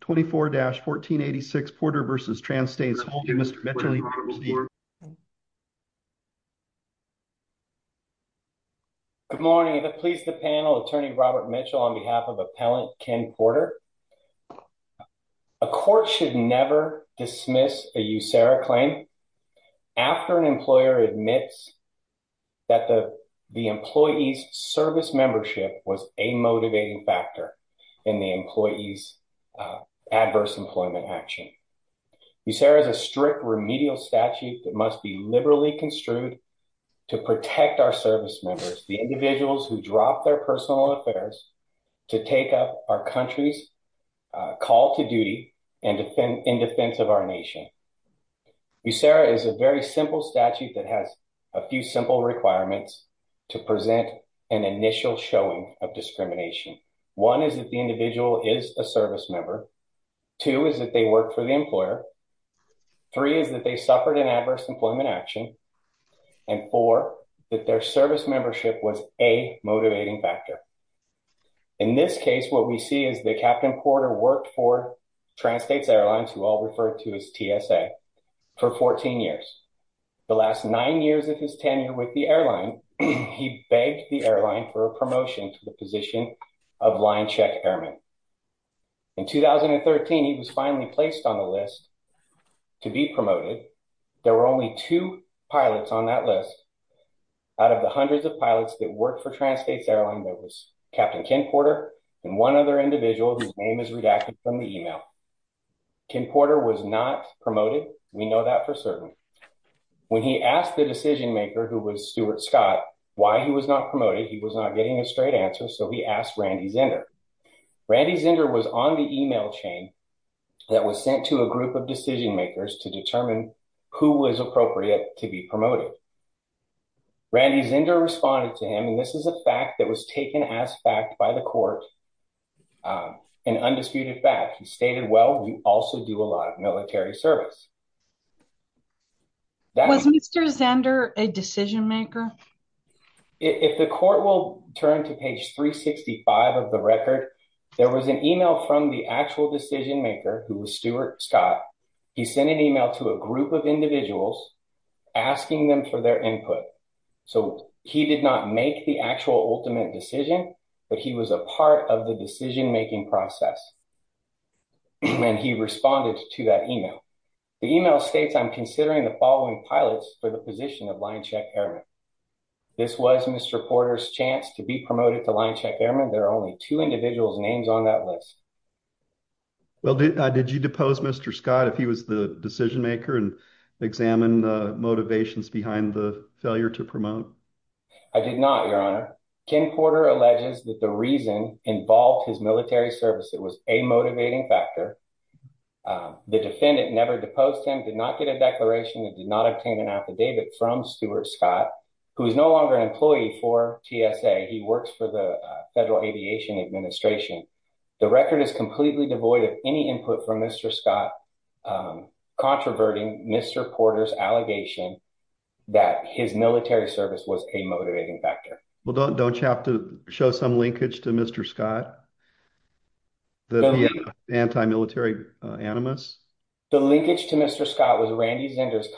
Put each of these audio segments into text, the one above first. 24-1486 Porter v. Trans States Holdings. Mr. Mitchell, you may proceed. Good morning. It pleases the panel, Attorney Robert Mitchell on behalf of Appellant Ken Porter. A court should never dismiss a USERRA claim after an employer admits that the employee's was a motivating factor in the employee's adverse employment action. USERRA is a strict remedial statute that must be liberally construed to protect our service members, the individuals who drop their personal affairs, to take up our country's call to duty and in defense of our country. USERRA is a very simple statute that has a few simple requirements to present an initial showing of discrimination. One is that the individual is a service member. Two is that they work for the employer. Three is that they suffered an adverse employment action. And four, that their service membership was a motivating factor. In this case, what we see is that Captain Porter worked for Trans States Airlines, who I'll refer to as TSA, for 14 years. The last nine years of his tenure with the airline, he begged the airline for a promotion to the position of line check airman. In 2013, he was finally placed on the list to be promoted. There were only two pilots on that list. Out of the hundreds of pilots that worked for Trans States his name is redacted from the email. Ken Porter was not promoted. We know that for certain. When he asked the decision maker, who was Stuart Scott, why he was not promoted, he was not getting a straight answer. So he asked Randy Zender. Randy Zender was on the email chain that was sent to a group of decision makers to determine who was appropriate to be promoted. Randy Zender responded to him, and this is a fact that was taken as fact by the court, an undisputed fact. He stated, well, we also do a lot of military service. Was Mr. Zender a decision maker? If the court will turn to page 365 of the record, there was an email from the actual decision maker, who was Stuart Scott. He sent an email to a group of individuals asking them for their input. So he did not make the actual ultimate decision, but he was a part of the decision making process. And he responded to that email. The email states, I'm considering the following pilots for the position of line check airman. This was Mr. Porter's chance to be promoted to line check airman. There are only two individuals names on that list. Well, did you depose Mr. Scott if he was the decision maker and examine the motivations behind the failure to promote? I did not, your honor. Ken Porter alleges that the reason involved his military service. It was a motivating factor. The defendant never deposed him, did not get a declaration, and did not obtain an affidavit from Stuart Scott, who is no longer an employee for TSA. He works for the Federal Aviation Administration. The record is completely devoid of any input from Mr. Scott, controverting Mr. Porter's allegation that his military service was a motivating factor. Well, don't you have to show some linkage to Mr. Scott, the anti-military animus? The linkage to Mr. Scott was Randy Zender's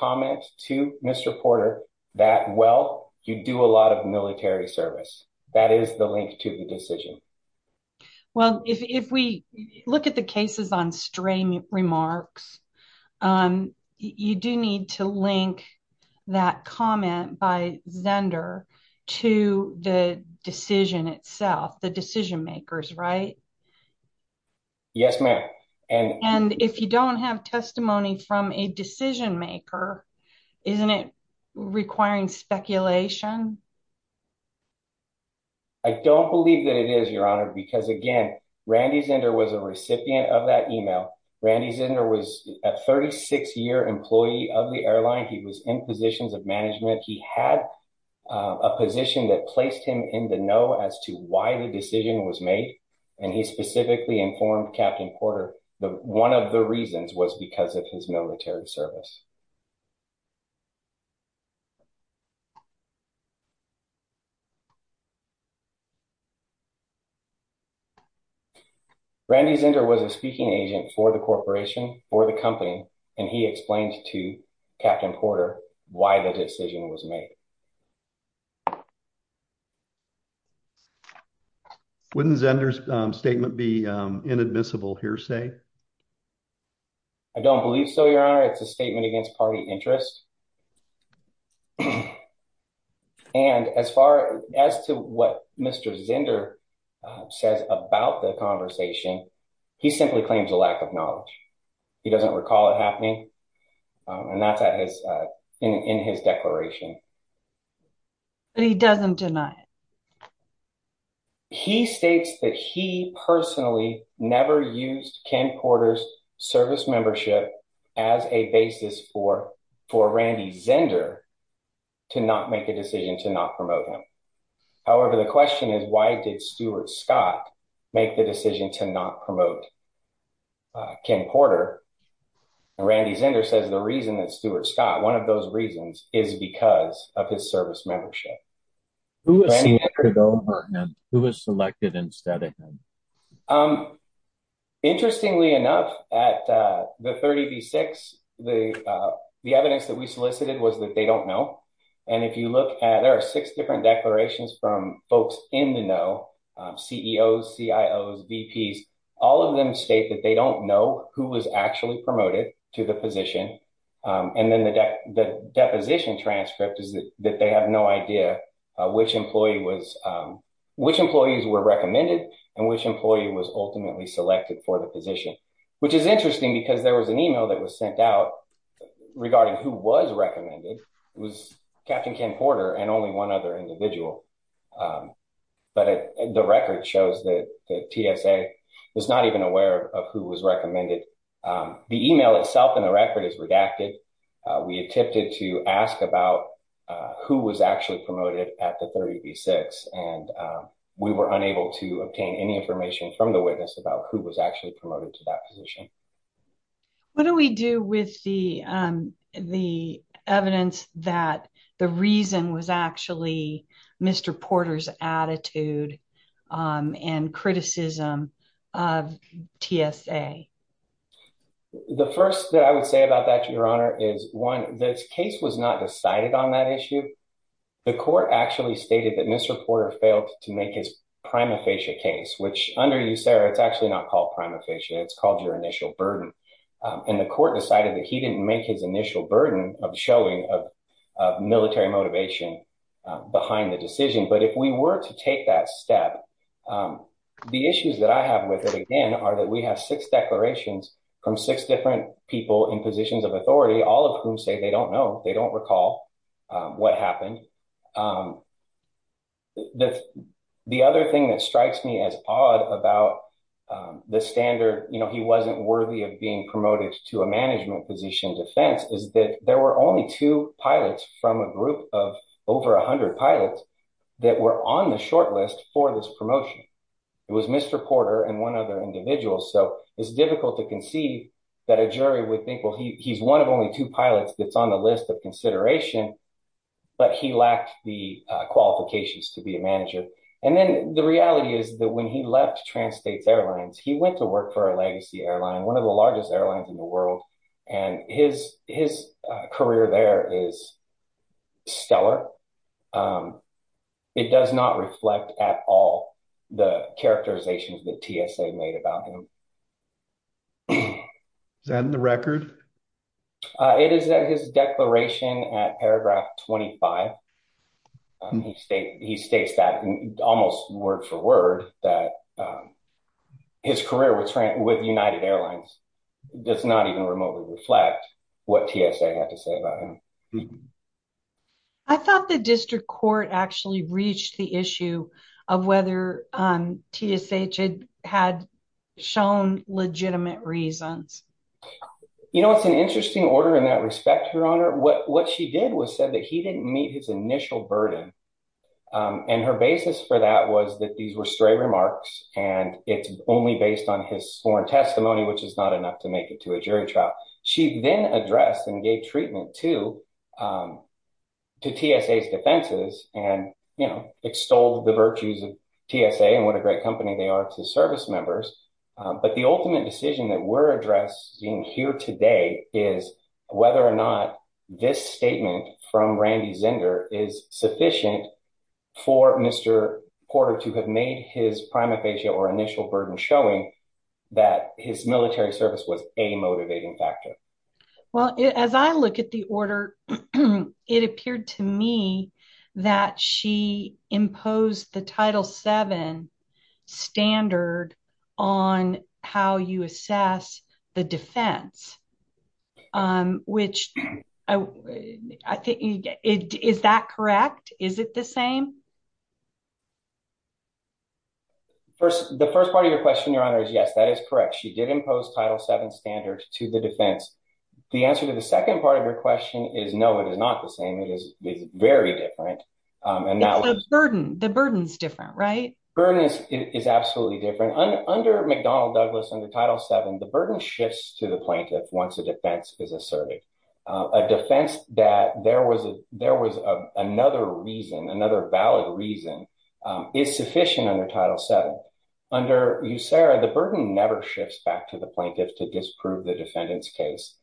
to Mr. Porter that, well, you do a lot of military service. That is the link to the decision. Well, if we look at the cases on stray remarks, you do need to link that comment by Zender to the decision itself, the decision makers, right? Yes, ma'am. And if you don't have testimony from a decision maker, isn't it requiring speculation? I don't believe that it is, your honor, because again, Randy Zender was a recipient of that email. Randy Zender was a 36-year employee of the airline. He was in positions of management. He had a position that placed him in the know as to why the decision was made. And he specifically informed Captain Porter that one of the reasons was because of his military service. Randy Zender was a speaking agent for the corporation, for the company, and he explained to Captain Porter why the decision was made. Wouldn't Zender's statement be inadmissible here, say? I don't believe so, your honor. It's a statement against party interest. And as far as to what Mr. Zender says about the conversation, he simply claims a lack of knowledge. He doesn't recall it happening, and that's in his declaration. But he doesn't deny it. He states that he personally never used Ken Porter's service membership as a basis for Randy Zender to not make a decision to not promote him. However, the question is why did Stuart Scott make the decision to not promote Ken Porter? Randy Zender says the reason that Stuart Scott, one of those reasons, is because of his service membership. Who was selected instead of him? Interestingly enough, at the 30v6, the evidence that we solicited was that they don't know. And if you look at, there are six different declarations from folks in the know, CEOs, CIOs, VPs. All of them state that they don't know who was actually promoted to the position. And then the deposition transcript is that they have no idea which employees were recommended and which employee was ultimately selected for the position, which is interesting because there was an email that was sent out regarding who was recommended. It was Captain Ken Porter and only other individual. But the record shows that the TSA was not even aware of who was recommended. The email itself in the record is redacted. We attempted to ask about who was actually promoted at the 30v6 and we were unable to obtain any information from the witness about who was actually promoted to that position. What do we do with the evidence that the reason was actually Mr. Porter's attitude and criticism of TSA? The first that I would say about that, Your Honor, is one, this case was not decided on that issue. The court actually stated that Mr. Porter failed to make his prima facie case, which under you, Sarah, it's actually not called prima facie. It's called your initial burden. And the court decided that he didn't make his initial burden of showing of military motivation behind the decision. But if we were to take that step, the issues that I have with it again are that we have six declarations from six different people in positions of authority, all of whom say they don't know, they don't recall what happened. The other thing that strikes me as odd about the standard, you know, he wasn't worthy of being promoted to a management position defense is that there were only two pilots from a group of over 100 pilots that were on the short list for this promotion. It was Mr. Porter and one other individual. So it's difficult to conceive that a jury would think, well, he's one of only two pilots that's on the list of consideration, but he lacked the qualifications to be a manager. And then the reality is that when he left Trans States Airlines, he went to work for a legacy airline, one of the largest airlines in the world. And his career there is stellar. It does not reflect at all the characterizations that TSA made about him. Is that in the record? It is in his declaration at paragraph 25. And he states that almost word for word that his career with United Airlines does not even remotely reflect what TSA had to say about him. I thought the district court actually reached the issue of whether TSA had shown legitimate reasons. You know, it's an interesting order in that respect, Your Honor. What she did was said that didn't meet his initial burden. And her basis for that was that these were stray remarks, and it's only based on his sworn testimony, which is not enough to make it to a jury trial. She then addressed and gave treatment to TSA's defenses and extolled the virtues of TSA and what a great company they are to service members. But the ultimate decision that we're addressing here is whether or not this statement from Randy Zender is sufficient for Mr. Porter to have made his prima facie or initial burden showing that his military service was a motivating factor. Well, as I look at the order, it appeared to me that she imposed the Title VII standard on how you assess the defense. Is that correct? Is it the same? The first part of your question, Your Honor, is yes, that is correct. She did impose Title VII standards to the defense. The answer to the second part of your question is no, it is not the same. It is very different. The burden is different, right? Burden is absolutely different. Under McDonnell Douglas, under Title VII, the burden shifts to the plaintiff once a defense is asserted. A defense that there was another valid reason is sufficient under Title VII. Under USARA, the burden never shifts back to the plaintiff to prove the defendant's case.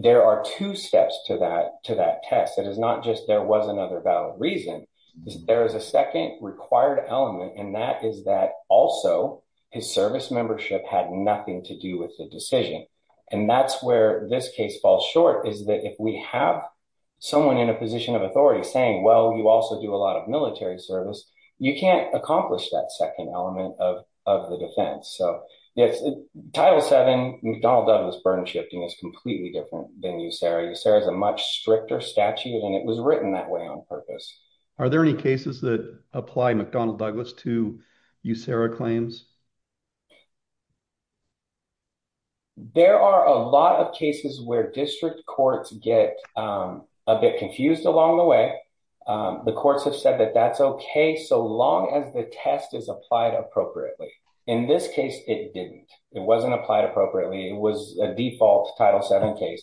There are two steps to that test. It is not just there was another valid reason. There is a second required element, and that is that also his service membership had nothing to do with the decision. That's where this case falls short. If we have someone in a position of authority saying, well, you also do a lot of military service, you can't accomplish that second element of the defense. Title VII, McDonnell Douglas burden shifting is completely different than USARA. USARA is a much stricter statute, and it was written that way on purpose. Are there any cases that apply McDonnell Douglas to USARA claims? There are a lot of cases where district courts get a bit confused along the way. The courts have said that that's okay so long as the test is applied appropriately. In this case, it didn't. It wasn't applied appropriately. It was a default Title VII case.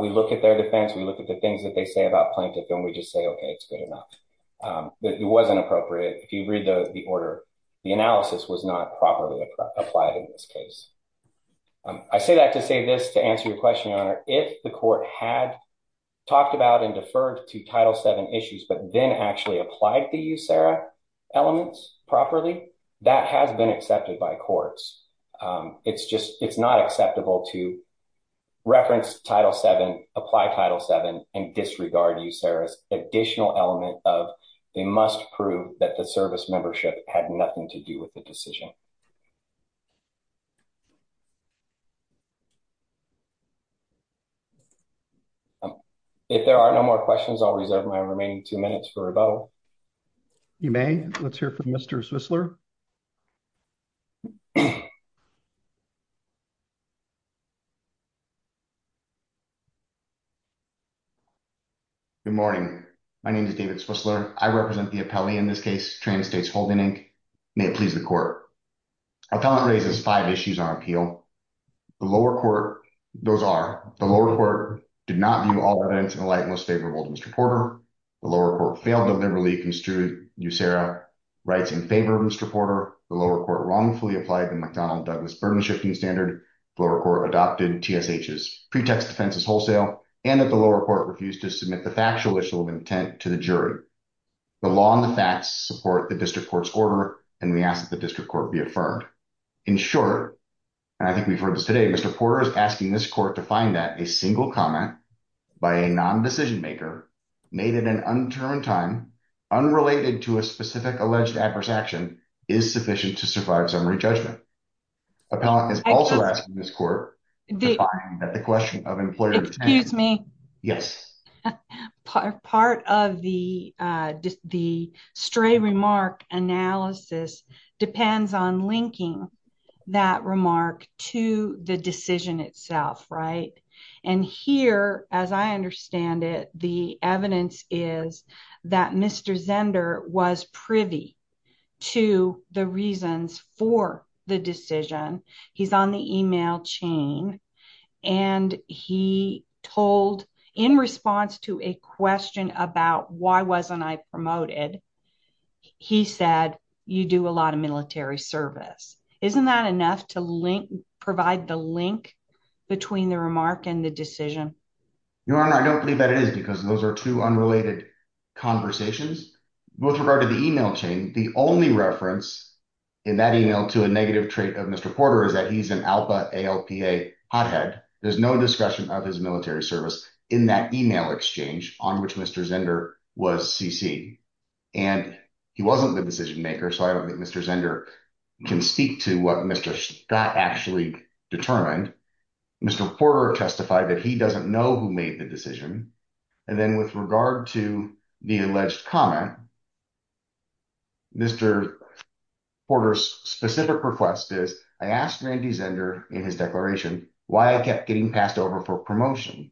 We look at their defense. We look at the things that they say about plaintiff, and we just say, okay, it's good enough. It wasn't appropriate. If you read the order, the analysis was not properly applied in this case. I say that to say this to answer your question, Your Honor. If the court had talked about and deferred to Title VII issues, but then actually applied the USARA elements properly, that has been accepted by courts. It's not acceptable to reference Title VII, apply Title VII, and disregard USARA's additional element of they must prove that the service membership had nothing to do with the two minutes for rebuttal. You may. Let's hear from Mr. Switzler. Good morning. My name is David Switzler. I represent the appellee in this case, Trans States Holding, Inc. May it please the court. Appellant raises five issues on appeal. The lower court, those are the lower court did not view all the evidence in the light Mr. Porter. The lower court failed to liberally construe USARA rights in favor of Mr. Porter. The lower court wrongfully applied the McDonald-Douglas burden-shifting standard. The lower court adopted TSH's pretext defenses wholesale, and that the lower court refused to submit the factual issue of intent to the jury. The law and the facts support the district court's order, and we ask that the district court be affirmed. In short, and I think we've heard this Mr. Porter is asking this court to find that a single comment by a non-decision maker, made at an undetermined time, unrelated to a specific alleged adverse action, is sufficient to survive summary judgment. Appellant is also asking this court that the question of employer... Excuse me. Yes. Part of the stray remark analysis depends on linking that remark to the decision itself, right? And here, as I understand it, the evidence is that Mr. Zender was privy to the reasons for the decision. He's on the email chain, and he told, in response to a question about why wasn't I promoted, he said, you do a lot of military service. Isn't that enough to link, provide the link between the remark and the decision? Your Honor, I don't believe that it is, because those are two unrelated conversations. With regard to the email chain, the only reference in that email to a negative trait of Mr. Porter is that he's an ALPA, ALPA hothead. There's no discussion of his military service in that email exchange on which Mr. Zender was CC. And he wasn't the decision maker, so I don't think Mr. Zender can speak to what Mr. Scott actually determined. Mr. Porter testified that he doesn't know who made the decision. And then with regard to the alleged comment, Mr. Porter's specific request is, I asked Randy Zender in his declaration why I kept getting passed over for promotion.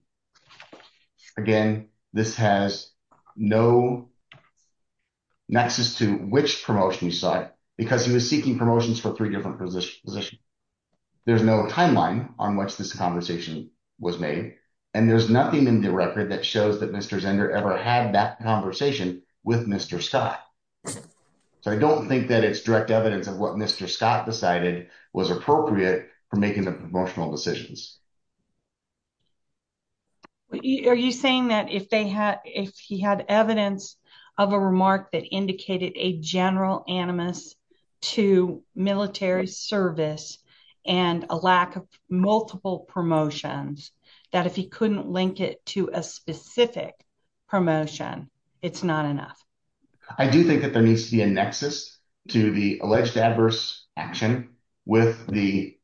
Again, this has no nexus to which promotion he sought, because he was seeking promotions for three different positions. There's no timeline on which this conversation was made, and there's nothing in the record that shows that Mr. Zender ever had that conversation with Mr. Scott. So I don't think that it's direct evidence of what Mr. Scott decided was appropriate for making the promotional decisions. Are you saying that if he had evidence of a remark that indicated a general animus to military service and a lack of multiple promotions, that if he couldn't link it to a specific promotion, it's not enough? I do think that there needs to be a nexus to the alleged adverse action with the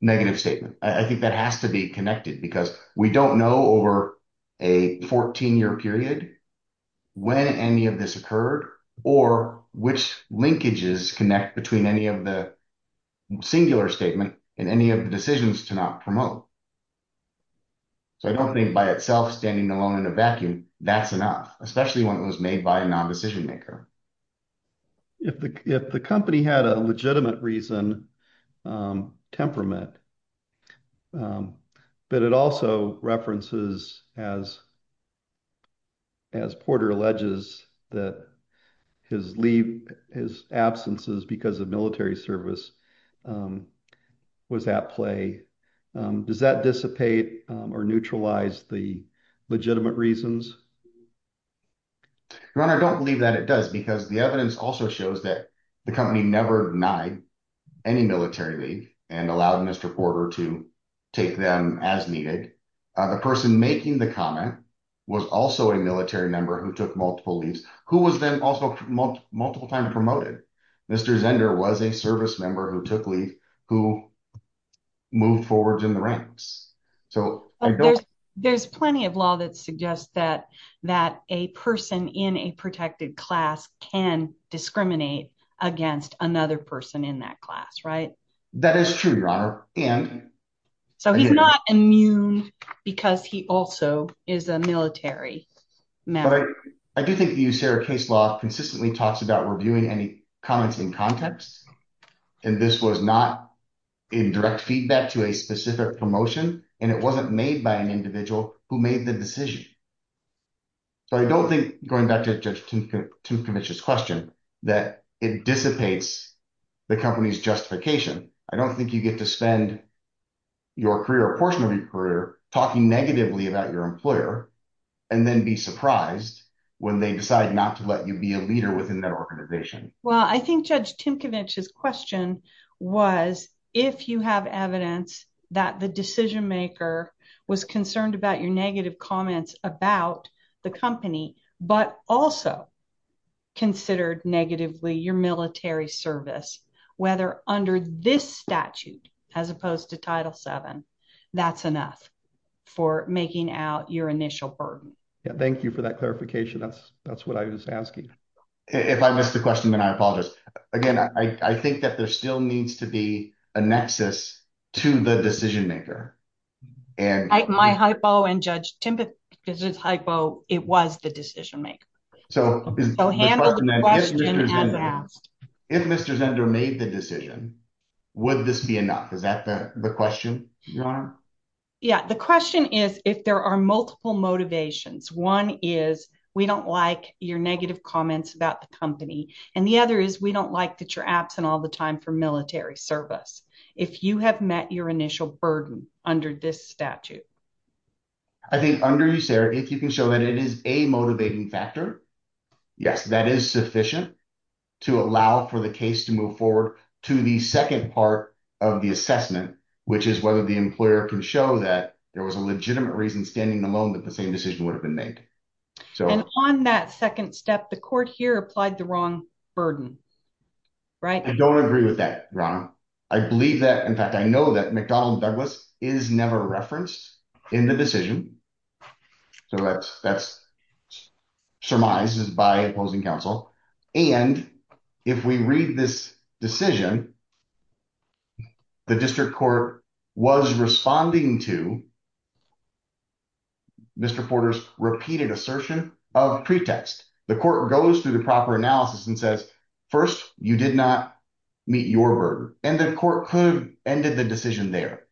negative statement. I think that has to be connected, because we don't know over a 14-year period when any of this occurred or which linkages connect between any of the singular statement and any of the decisions to not promote. So I don't think by itself standing alone in a vacuum, that's enough, especially when it was made by a non-decision maker. If the company had a legitimate reason, temperament, but it also references, as Porter alleges, that his absences because of military service was at play, does that dissipate or neutralize the legitimate reasons? Your Honor, I don't believe that it does, because the evidence also shows that the company never denied any military leave and allowed Mr. Porter to take them as needed. The person making the comment was also a military member who took multiple leaves, who was then also multiple times promoted. Mr. Zender was a service member who took leave, who moved forward in the ranks. So there's plenty of law that suggests that a person in a protected class can discriminate against another person in that class, right? That is true, Your Honor. So he's not immune because he also is a military member. I do think the USAREUR case law consistently talks about reviewing any comments in context, and this was not in direct feedback to a specific promotion, and it wasn't made by an individual who made the decision. So I don't think, going back to Judge Tymkiewicz's question, that it dissipates the company's justification. I don't think you get to spend your career, a portion of your career, talking negatively about your employer and then be surprised when they decide not to let you be a leader within that organization. Well, I think Judge Tymkiewicz's question was, if you have evidence that the decision-maker was concerned about your negative comments about the company, but also considered negatively your military service, whether under this statute, as opposed to Title VII, that's enough for making out your initial burden. Thank you for that clarification. That's what I was asking. If I missed the question, then I apologize. Again, I think that there still needs to be a nexus to the decision-maker. My hypo and Judge Tymkiewicz's hypo, it was the decision-maker. If Mr. Zender made the decision, would this be enough? Is that the question, Your Honor? Yeah. The question is, if there are multiple motivations. One is, we don't like your negative comments about the company. The other is, we don't like that you're absent all the time for military service. If you have met your initial burden under this statute. I think under you, Sarah, if you can show that it is a motivating factor, yes, that is sufficient to allow for the case to move forward to the second part of the assessment, which is whether the employer can show that there was a legitimate reason standing alone that the same decision would have been made. On that second step, the court here applied the wrong burden, right? I don't agree with that, Your Honor. I believe that, in fact, I know that McDonnell and Douglas is never referenced in the decision. That surmises by opposing counsel. If we read this decision, the district court was responding to Mr. Porter's repeated assertion of pretext. The court goes through the proper analysis and says, first, you did not meet your burden, and the court could have ended the decision there.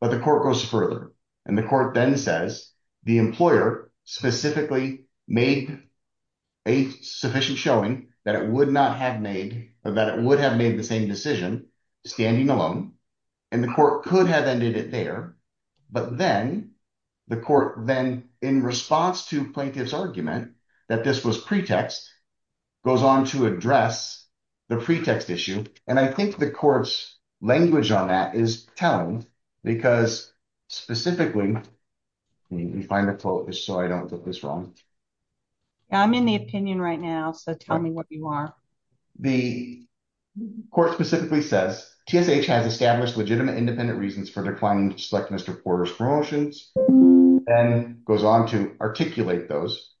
But the court goes further, and the court then says, the employer specifically made a sufficient showing that it would not have made, that it would have made the same decision standing alone, and the court could have ended it there. But then, the court then, in response to plaintiff's argument that this was pretext, goes on to address the pretext issue. And I think the court's language on that is telling, because specifically, you find it so I don't get this wrong. I'm in the opinion right now, so tell me what you are. The court specifically says, TSH has established legitimate independent reasons for declining selectness to Porter's promotions, and goes on to articulate those.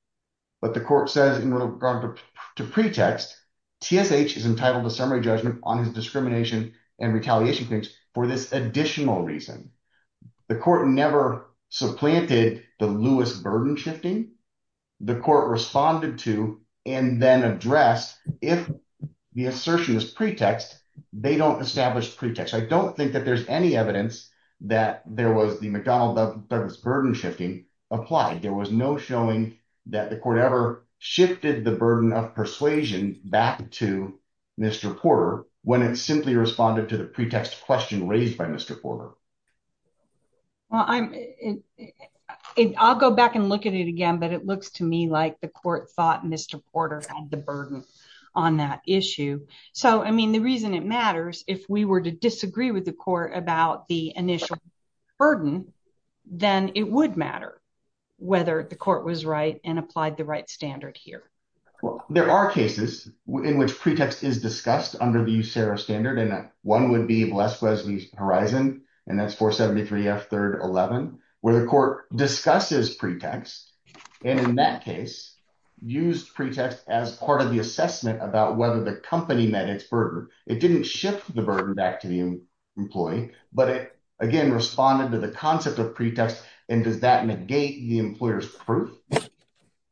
But the court says in regard to pretext, TSH is entitled to summary judgment on his discrimination and retaliation claims for this additional reason. The court never supplanted the Lewis burden shifting. The court responded to and then addressed, if the assertion is pretext, they don't establish pretext. I don't think that there's any evidence that there was the McDonald Douglas burden shifting applied. There was no showing that the court ever shifted the burden of persuasion back to Mr. Porter when it simply responded to the pretext question raised by Mr. Porter. Well, I'll go back and look at it again, but it looks to me like the court thought Mr. Porter had the burden on that issue. So, I mean, the reason it matters, if we were to disagree with the court about the initial burden, then it would matter whether the court was right and applied the right standard here. Well, there are cases in which pretext is discussed under the USERRA standard, and one would be Bless Wesley's Horizon, and that's 473 F 3rd 11, where the court discusses pretext, and in that case, used pretext as part of the assessment about whether the company met its burden. It didn't shift the burden back to the employee, but it, again, responded to the concept of pretext, and does that negate the employer's proof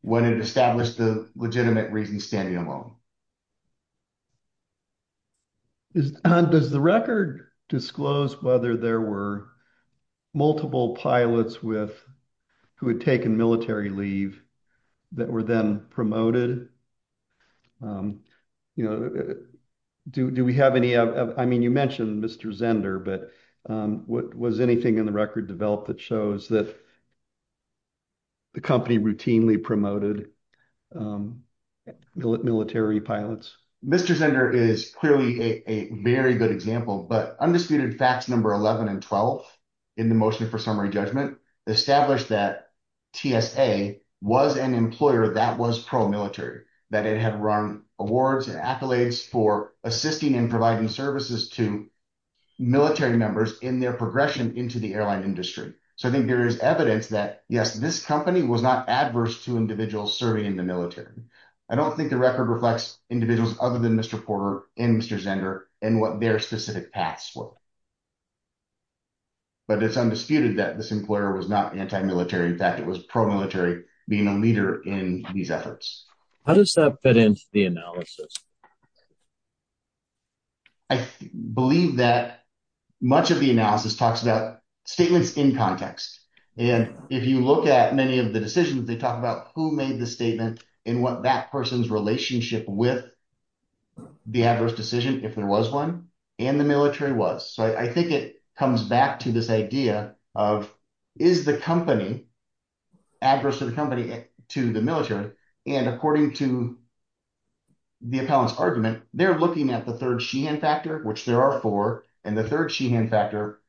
when it established the legitimate reason standing alone? Does the record disclose whether there were multiple pilots who had taken military leave that were then promoted? You know, do we have any, I mean, you mentioned Mr. Zender, but was anything in the record developed that shows that the company routinely promoted military pilots? Mr. Zender is clearly a very good example, but undisputed facts number 11 and 12 in the motion for summary judgment established that TSA was an employer that was pro-military, that it had run awards and accolades for assisting and providing services to military members in their progression into the airline industry. So, I think there is evidence that, yes, this company was not adverse to individuals serving in the military. I don't think the record reflects individuals other than Mr. Porter and Mr. Zender and what their specific paths were, but it's undisputed that this employer was not anti-military, in fact, it was pro-military being a leader in these efforts. How does that fit into the analysis? I believe that much of the analysis talks about statements in context. And if you look at many of the decisions, they talk about who made the statement and what that person's relationship with the adverse decision, if there was one, and the military was. So, I think it comes back to this idea of, is the company adverse to the company, to the military? And according to the appellant's argument, they're looking at the third Sheehan factor, which there are four, and the third Sheehan factor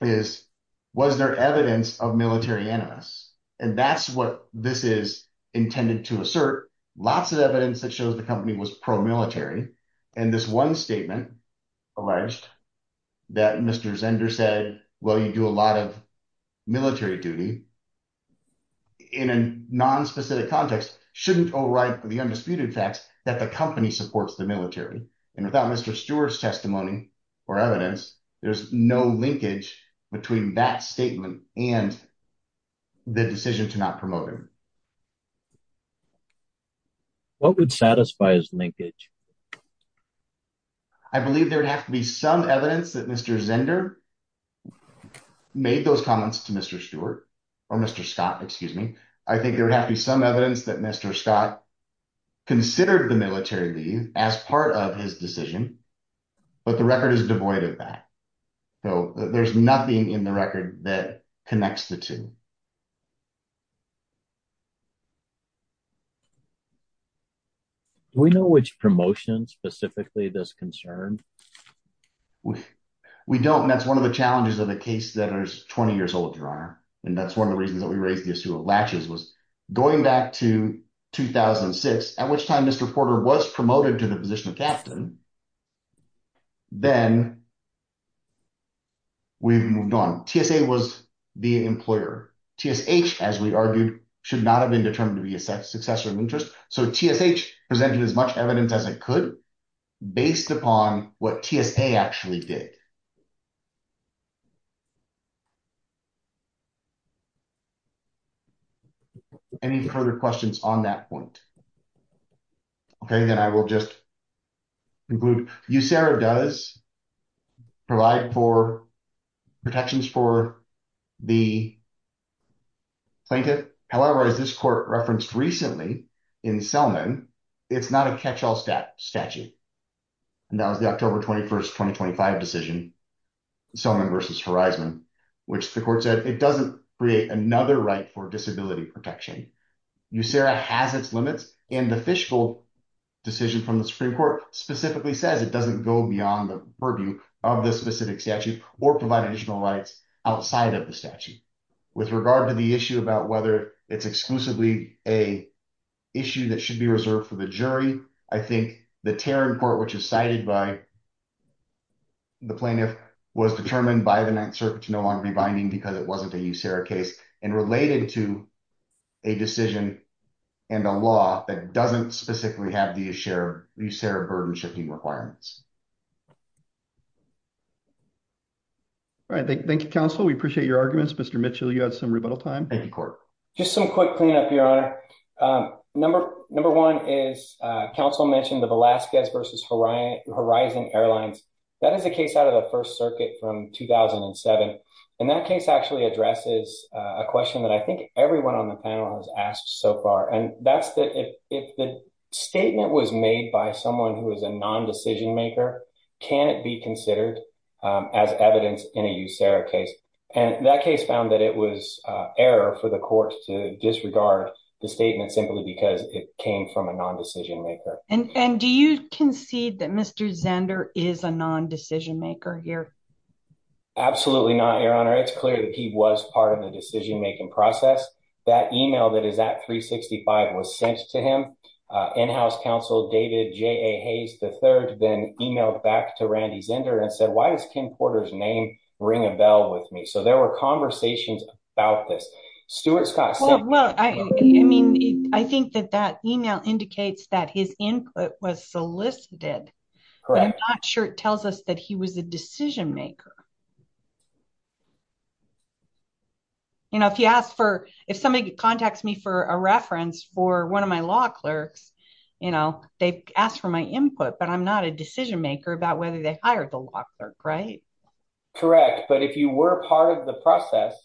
is, was there evidence of military animus? And that's what this is intended to assert. Lots of evidence that shows the company was pro-military. And this one statement alleged that Mr. Zender said, well, you do a lot of military duty in a nonspecific context, shouldn't override the undisputed facts that the company supports the military. And without Mr. Stewart's testimony or evidence, there's no linkage between that statement and the decision to not promote him. What would satisfy his linkage? I believe there would have to be some evidence that Mr. Zender made those comments to Mr. Stewart or Mr. Scott, excuse me. I think there would have to be some evidence that Mr. Scott considered the military leave as part of his decision, but the record is devoid of that. So, there's nothing in the record that connects the two. Do we know which promotion specifically does concern? We don't, and that's one of the challenges of the case that is 20 years old, Your Honor. And that's one of the reasons that we raised the issue of latches was going back to 2006, at which time Mr. Porter was promoted to the position of captain. Then we've moved on. TSA was the employer. TSH, as we argued, should not have been determined to be a successor of interest. So, TSH presented as much evidence as it could based upon what TSA actually did. Any further questions on that point? Okay, then I will just conclude. USARA does provide for protections for the plaintiff. However, as this court referenced recently, in Selman, it's not a catch-all statute. And that was the October 21st, 2025 decision, Selman versus Horizon, which the court said, it doesn't create another right for disability protection. USARA has its limits, and the fishbowl decision from the Supreme Court specifically says it doesn't go beyond the purview of the specific statute or provide additional rights outside of statute. With regard to the issue about whether it's exclusively an issue that should be reserved for the jury, I think the Terran court, which is cited by the plaintiff, was determined by the Ninth Circuit to no longer be binding because it wasn't a USARA case and related to a decision and a law that doesn't specifically have the USARA burden-shifting requirements. All right. Thank you, counsel. We appreciate your arguments. Mr. Mitchell, you have some rebuttal time in court. Just some quick cleanup, Your Honor. Number one is counsel mentioned the Velazquez versus Horizon Airlines. That is a case out of the First Circuit from 2007. And that case actually addresses a question that I think everyone on the panel has asked so far. And that's that if the statement was made by someone who is a non-decision maker, can it be considered as evidence in a USARA case? And that case found that it was error for the court to disregard the statement simply because it came from a non-decision maker. And do you concede that Mr. Zender is a non-decision maker here? Absolutely not, Your Honor. It's clear that he was part of the decision-making process. That email that is at 365 was sent to him. In-house counsel David J.A. Hayes III then emailed back to Randy Zender and said, why does Ken Porter's name ring a bell with me? So there were conversations about this. Stuart Scott said- Well, I mean, I think that that email indicates that his input was solicited. Correct. But I'm not sure it tells us that he was a decision maker. You know, if you ask for- if somebody contacts me for a reference for one of my law clerks, you know, they've asked for my input, but I'm not a decision maker about whether they hired the law clerk, right? Correct. But if you were part of the process,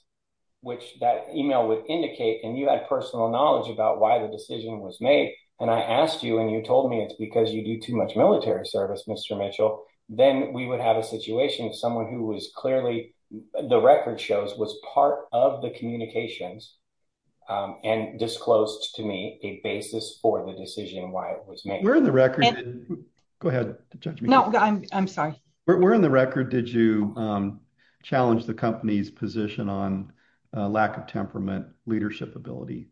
which that email would indicate, and you had personal knowledge about why the decision was made, and I asked you and you told me it's because you do too much military service, Mr. Mitchell, then we would have a situation of someone who was clearly, the record shows, was part of the communications and disclosed to me a basis for the decision why it was made. Where in the record- Go ahead, judge me. No, I'm sorry. Where in the record did you challenge the company's position on lack of temperament, leadership ability?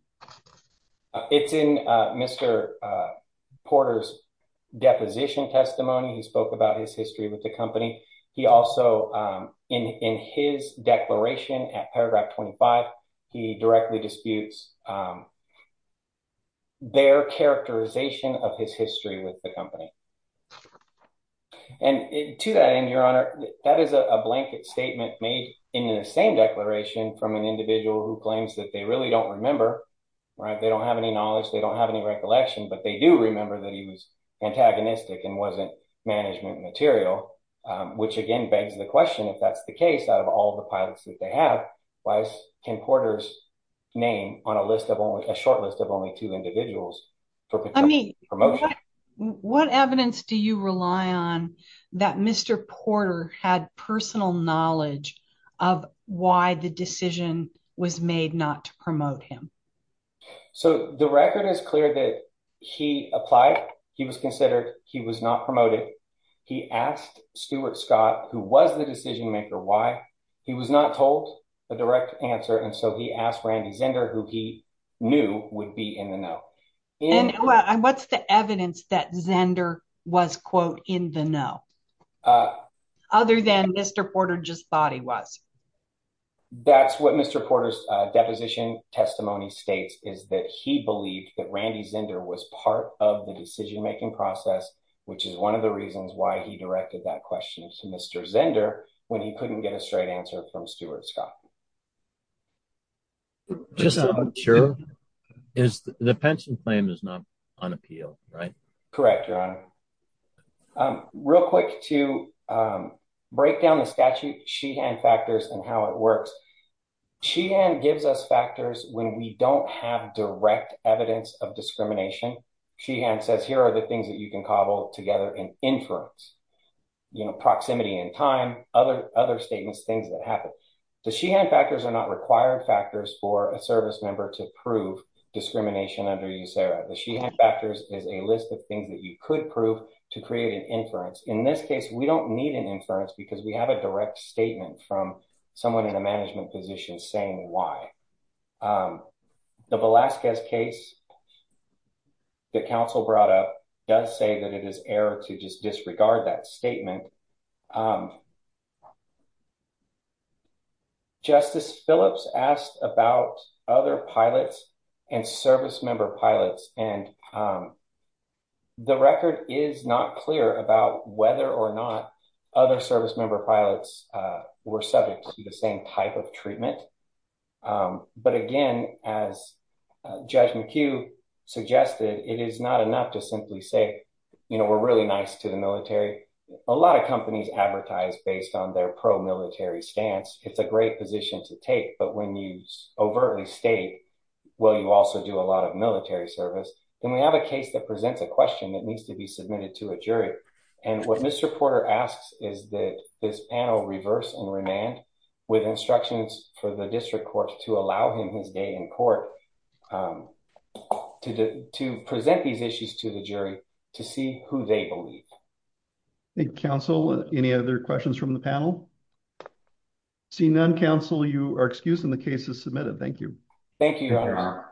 It's in Mr. Porter's deposition testimony. He spoke about his history with the company. He also, in his declaration at paragraph 25, he directly disputes their characterization of his history with the company. And to that end, your honor, that is a blanket statement made in the same declaration from an employee, right? They don't have any knowledge, they don't have any recollection, but they do remember that he was antagonistic and wasn't management material, which again begs the question, if that's the case, out of all the pilots that they have, why can Porter's name on a short list of only two individuals- I mean, what evidence do you rely on that Mr. Porter had personal knowledge of why the decision was made not to promote him? So the record is clear that he applied, he was considered, he was not promoted. He asked Stuart Scott, who was the decision maker, why he was not told a direct answer, and so he asked Randy Zender, who he knew would be in the know. And what's the evidence that Zender was, quote, in the know, other than Mr. Porter just thought he was? That's what Mr. Porter's deposition testimony states, is that he believed that Randy Zender was part of the decision-making process, which is one of the reasons why he directed that question to Mr. Zender, when he couldn't get a straight answer from Stuart Scott. The pension claim is not on appeal, right? Correct, your honor. Real quick to break down the statute, Sheehan factors, and how it works. Sheehan gives us factors when we don't have direct evidence of discrimination. Sheehan says here are the things that you can cobble together in inference, you know, proximity and time, other statements, things that happen. The Sheehan factors are not required factors for a service member to prove discrimination under USERRA. The Sheehan factors is a list of things that you could prove to create an inference. In this case, we don't need an inference because we have a direct statement from someone in a management position saying why. The Velazquez case that counsel brought up does say that it is error to just disregard that statement. Justice Phillips asked about other pilots and service member pilots, and the record is not clear about whether or not other service member pilots were subject to the same type of treatment. But again, as Judge McHugh suggested, it is not enough to simply say, you know, we're really nice to the military. A lot of companies advertise based on their pro-military stance. It's a great position to take, but when you overtly state, well, you also do a lot of military service, then we have a case that presents a question that needs to be submitted to a jury. And what Mr. Porter asks is that this panel reverse and remand with instructions for the district court to allow him his day in court to present these issues to the jury to see who they believe. Thank you, counsel. Any other questions from the panel? Seeing none, counsel, you are excused and the case is submitted. Thank you. Thank you, Your Honor.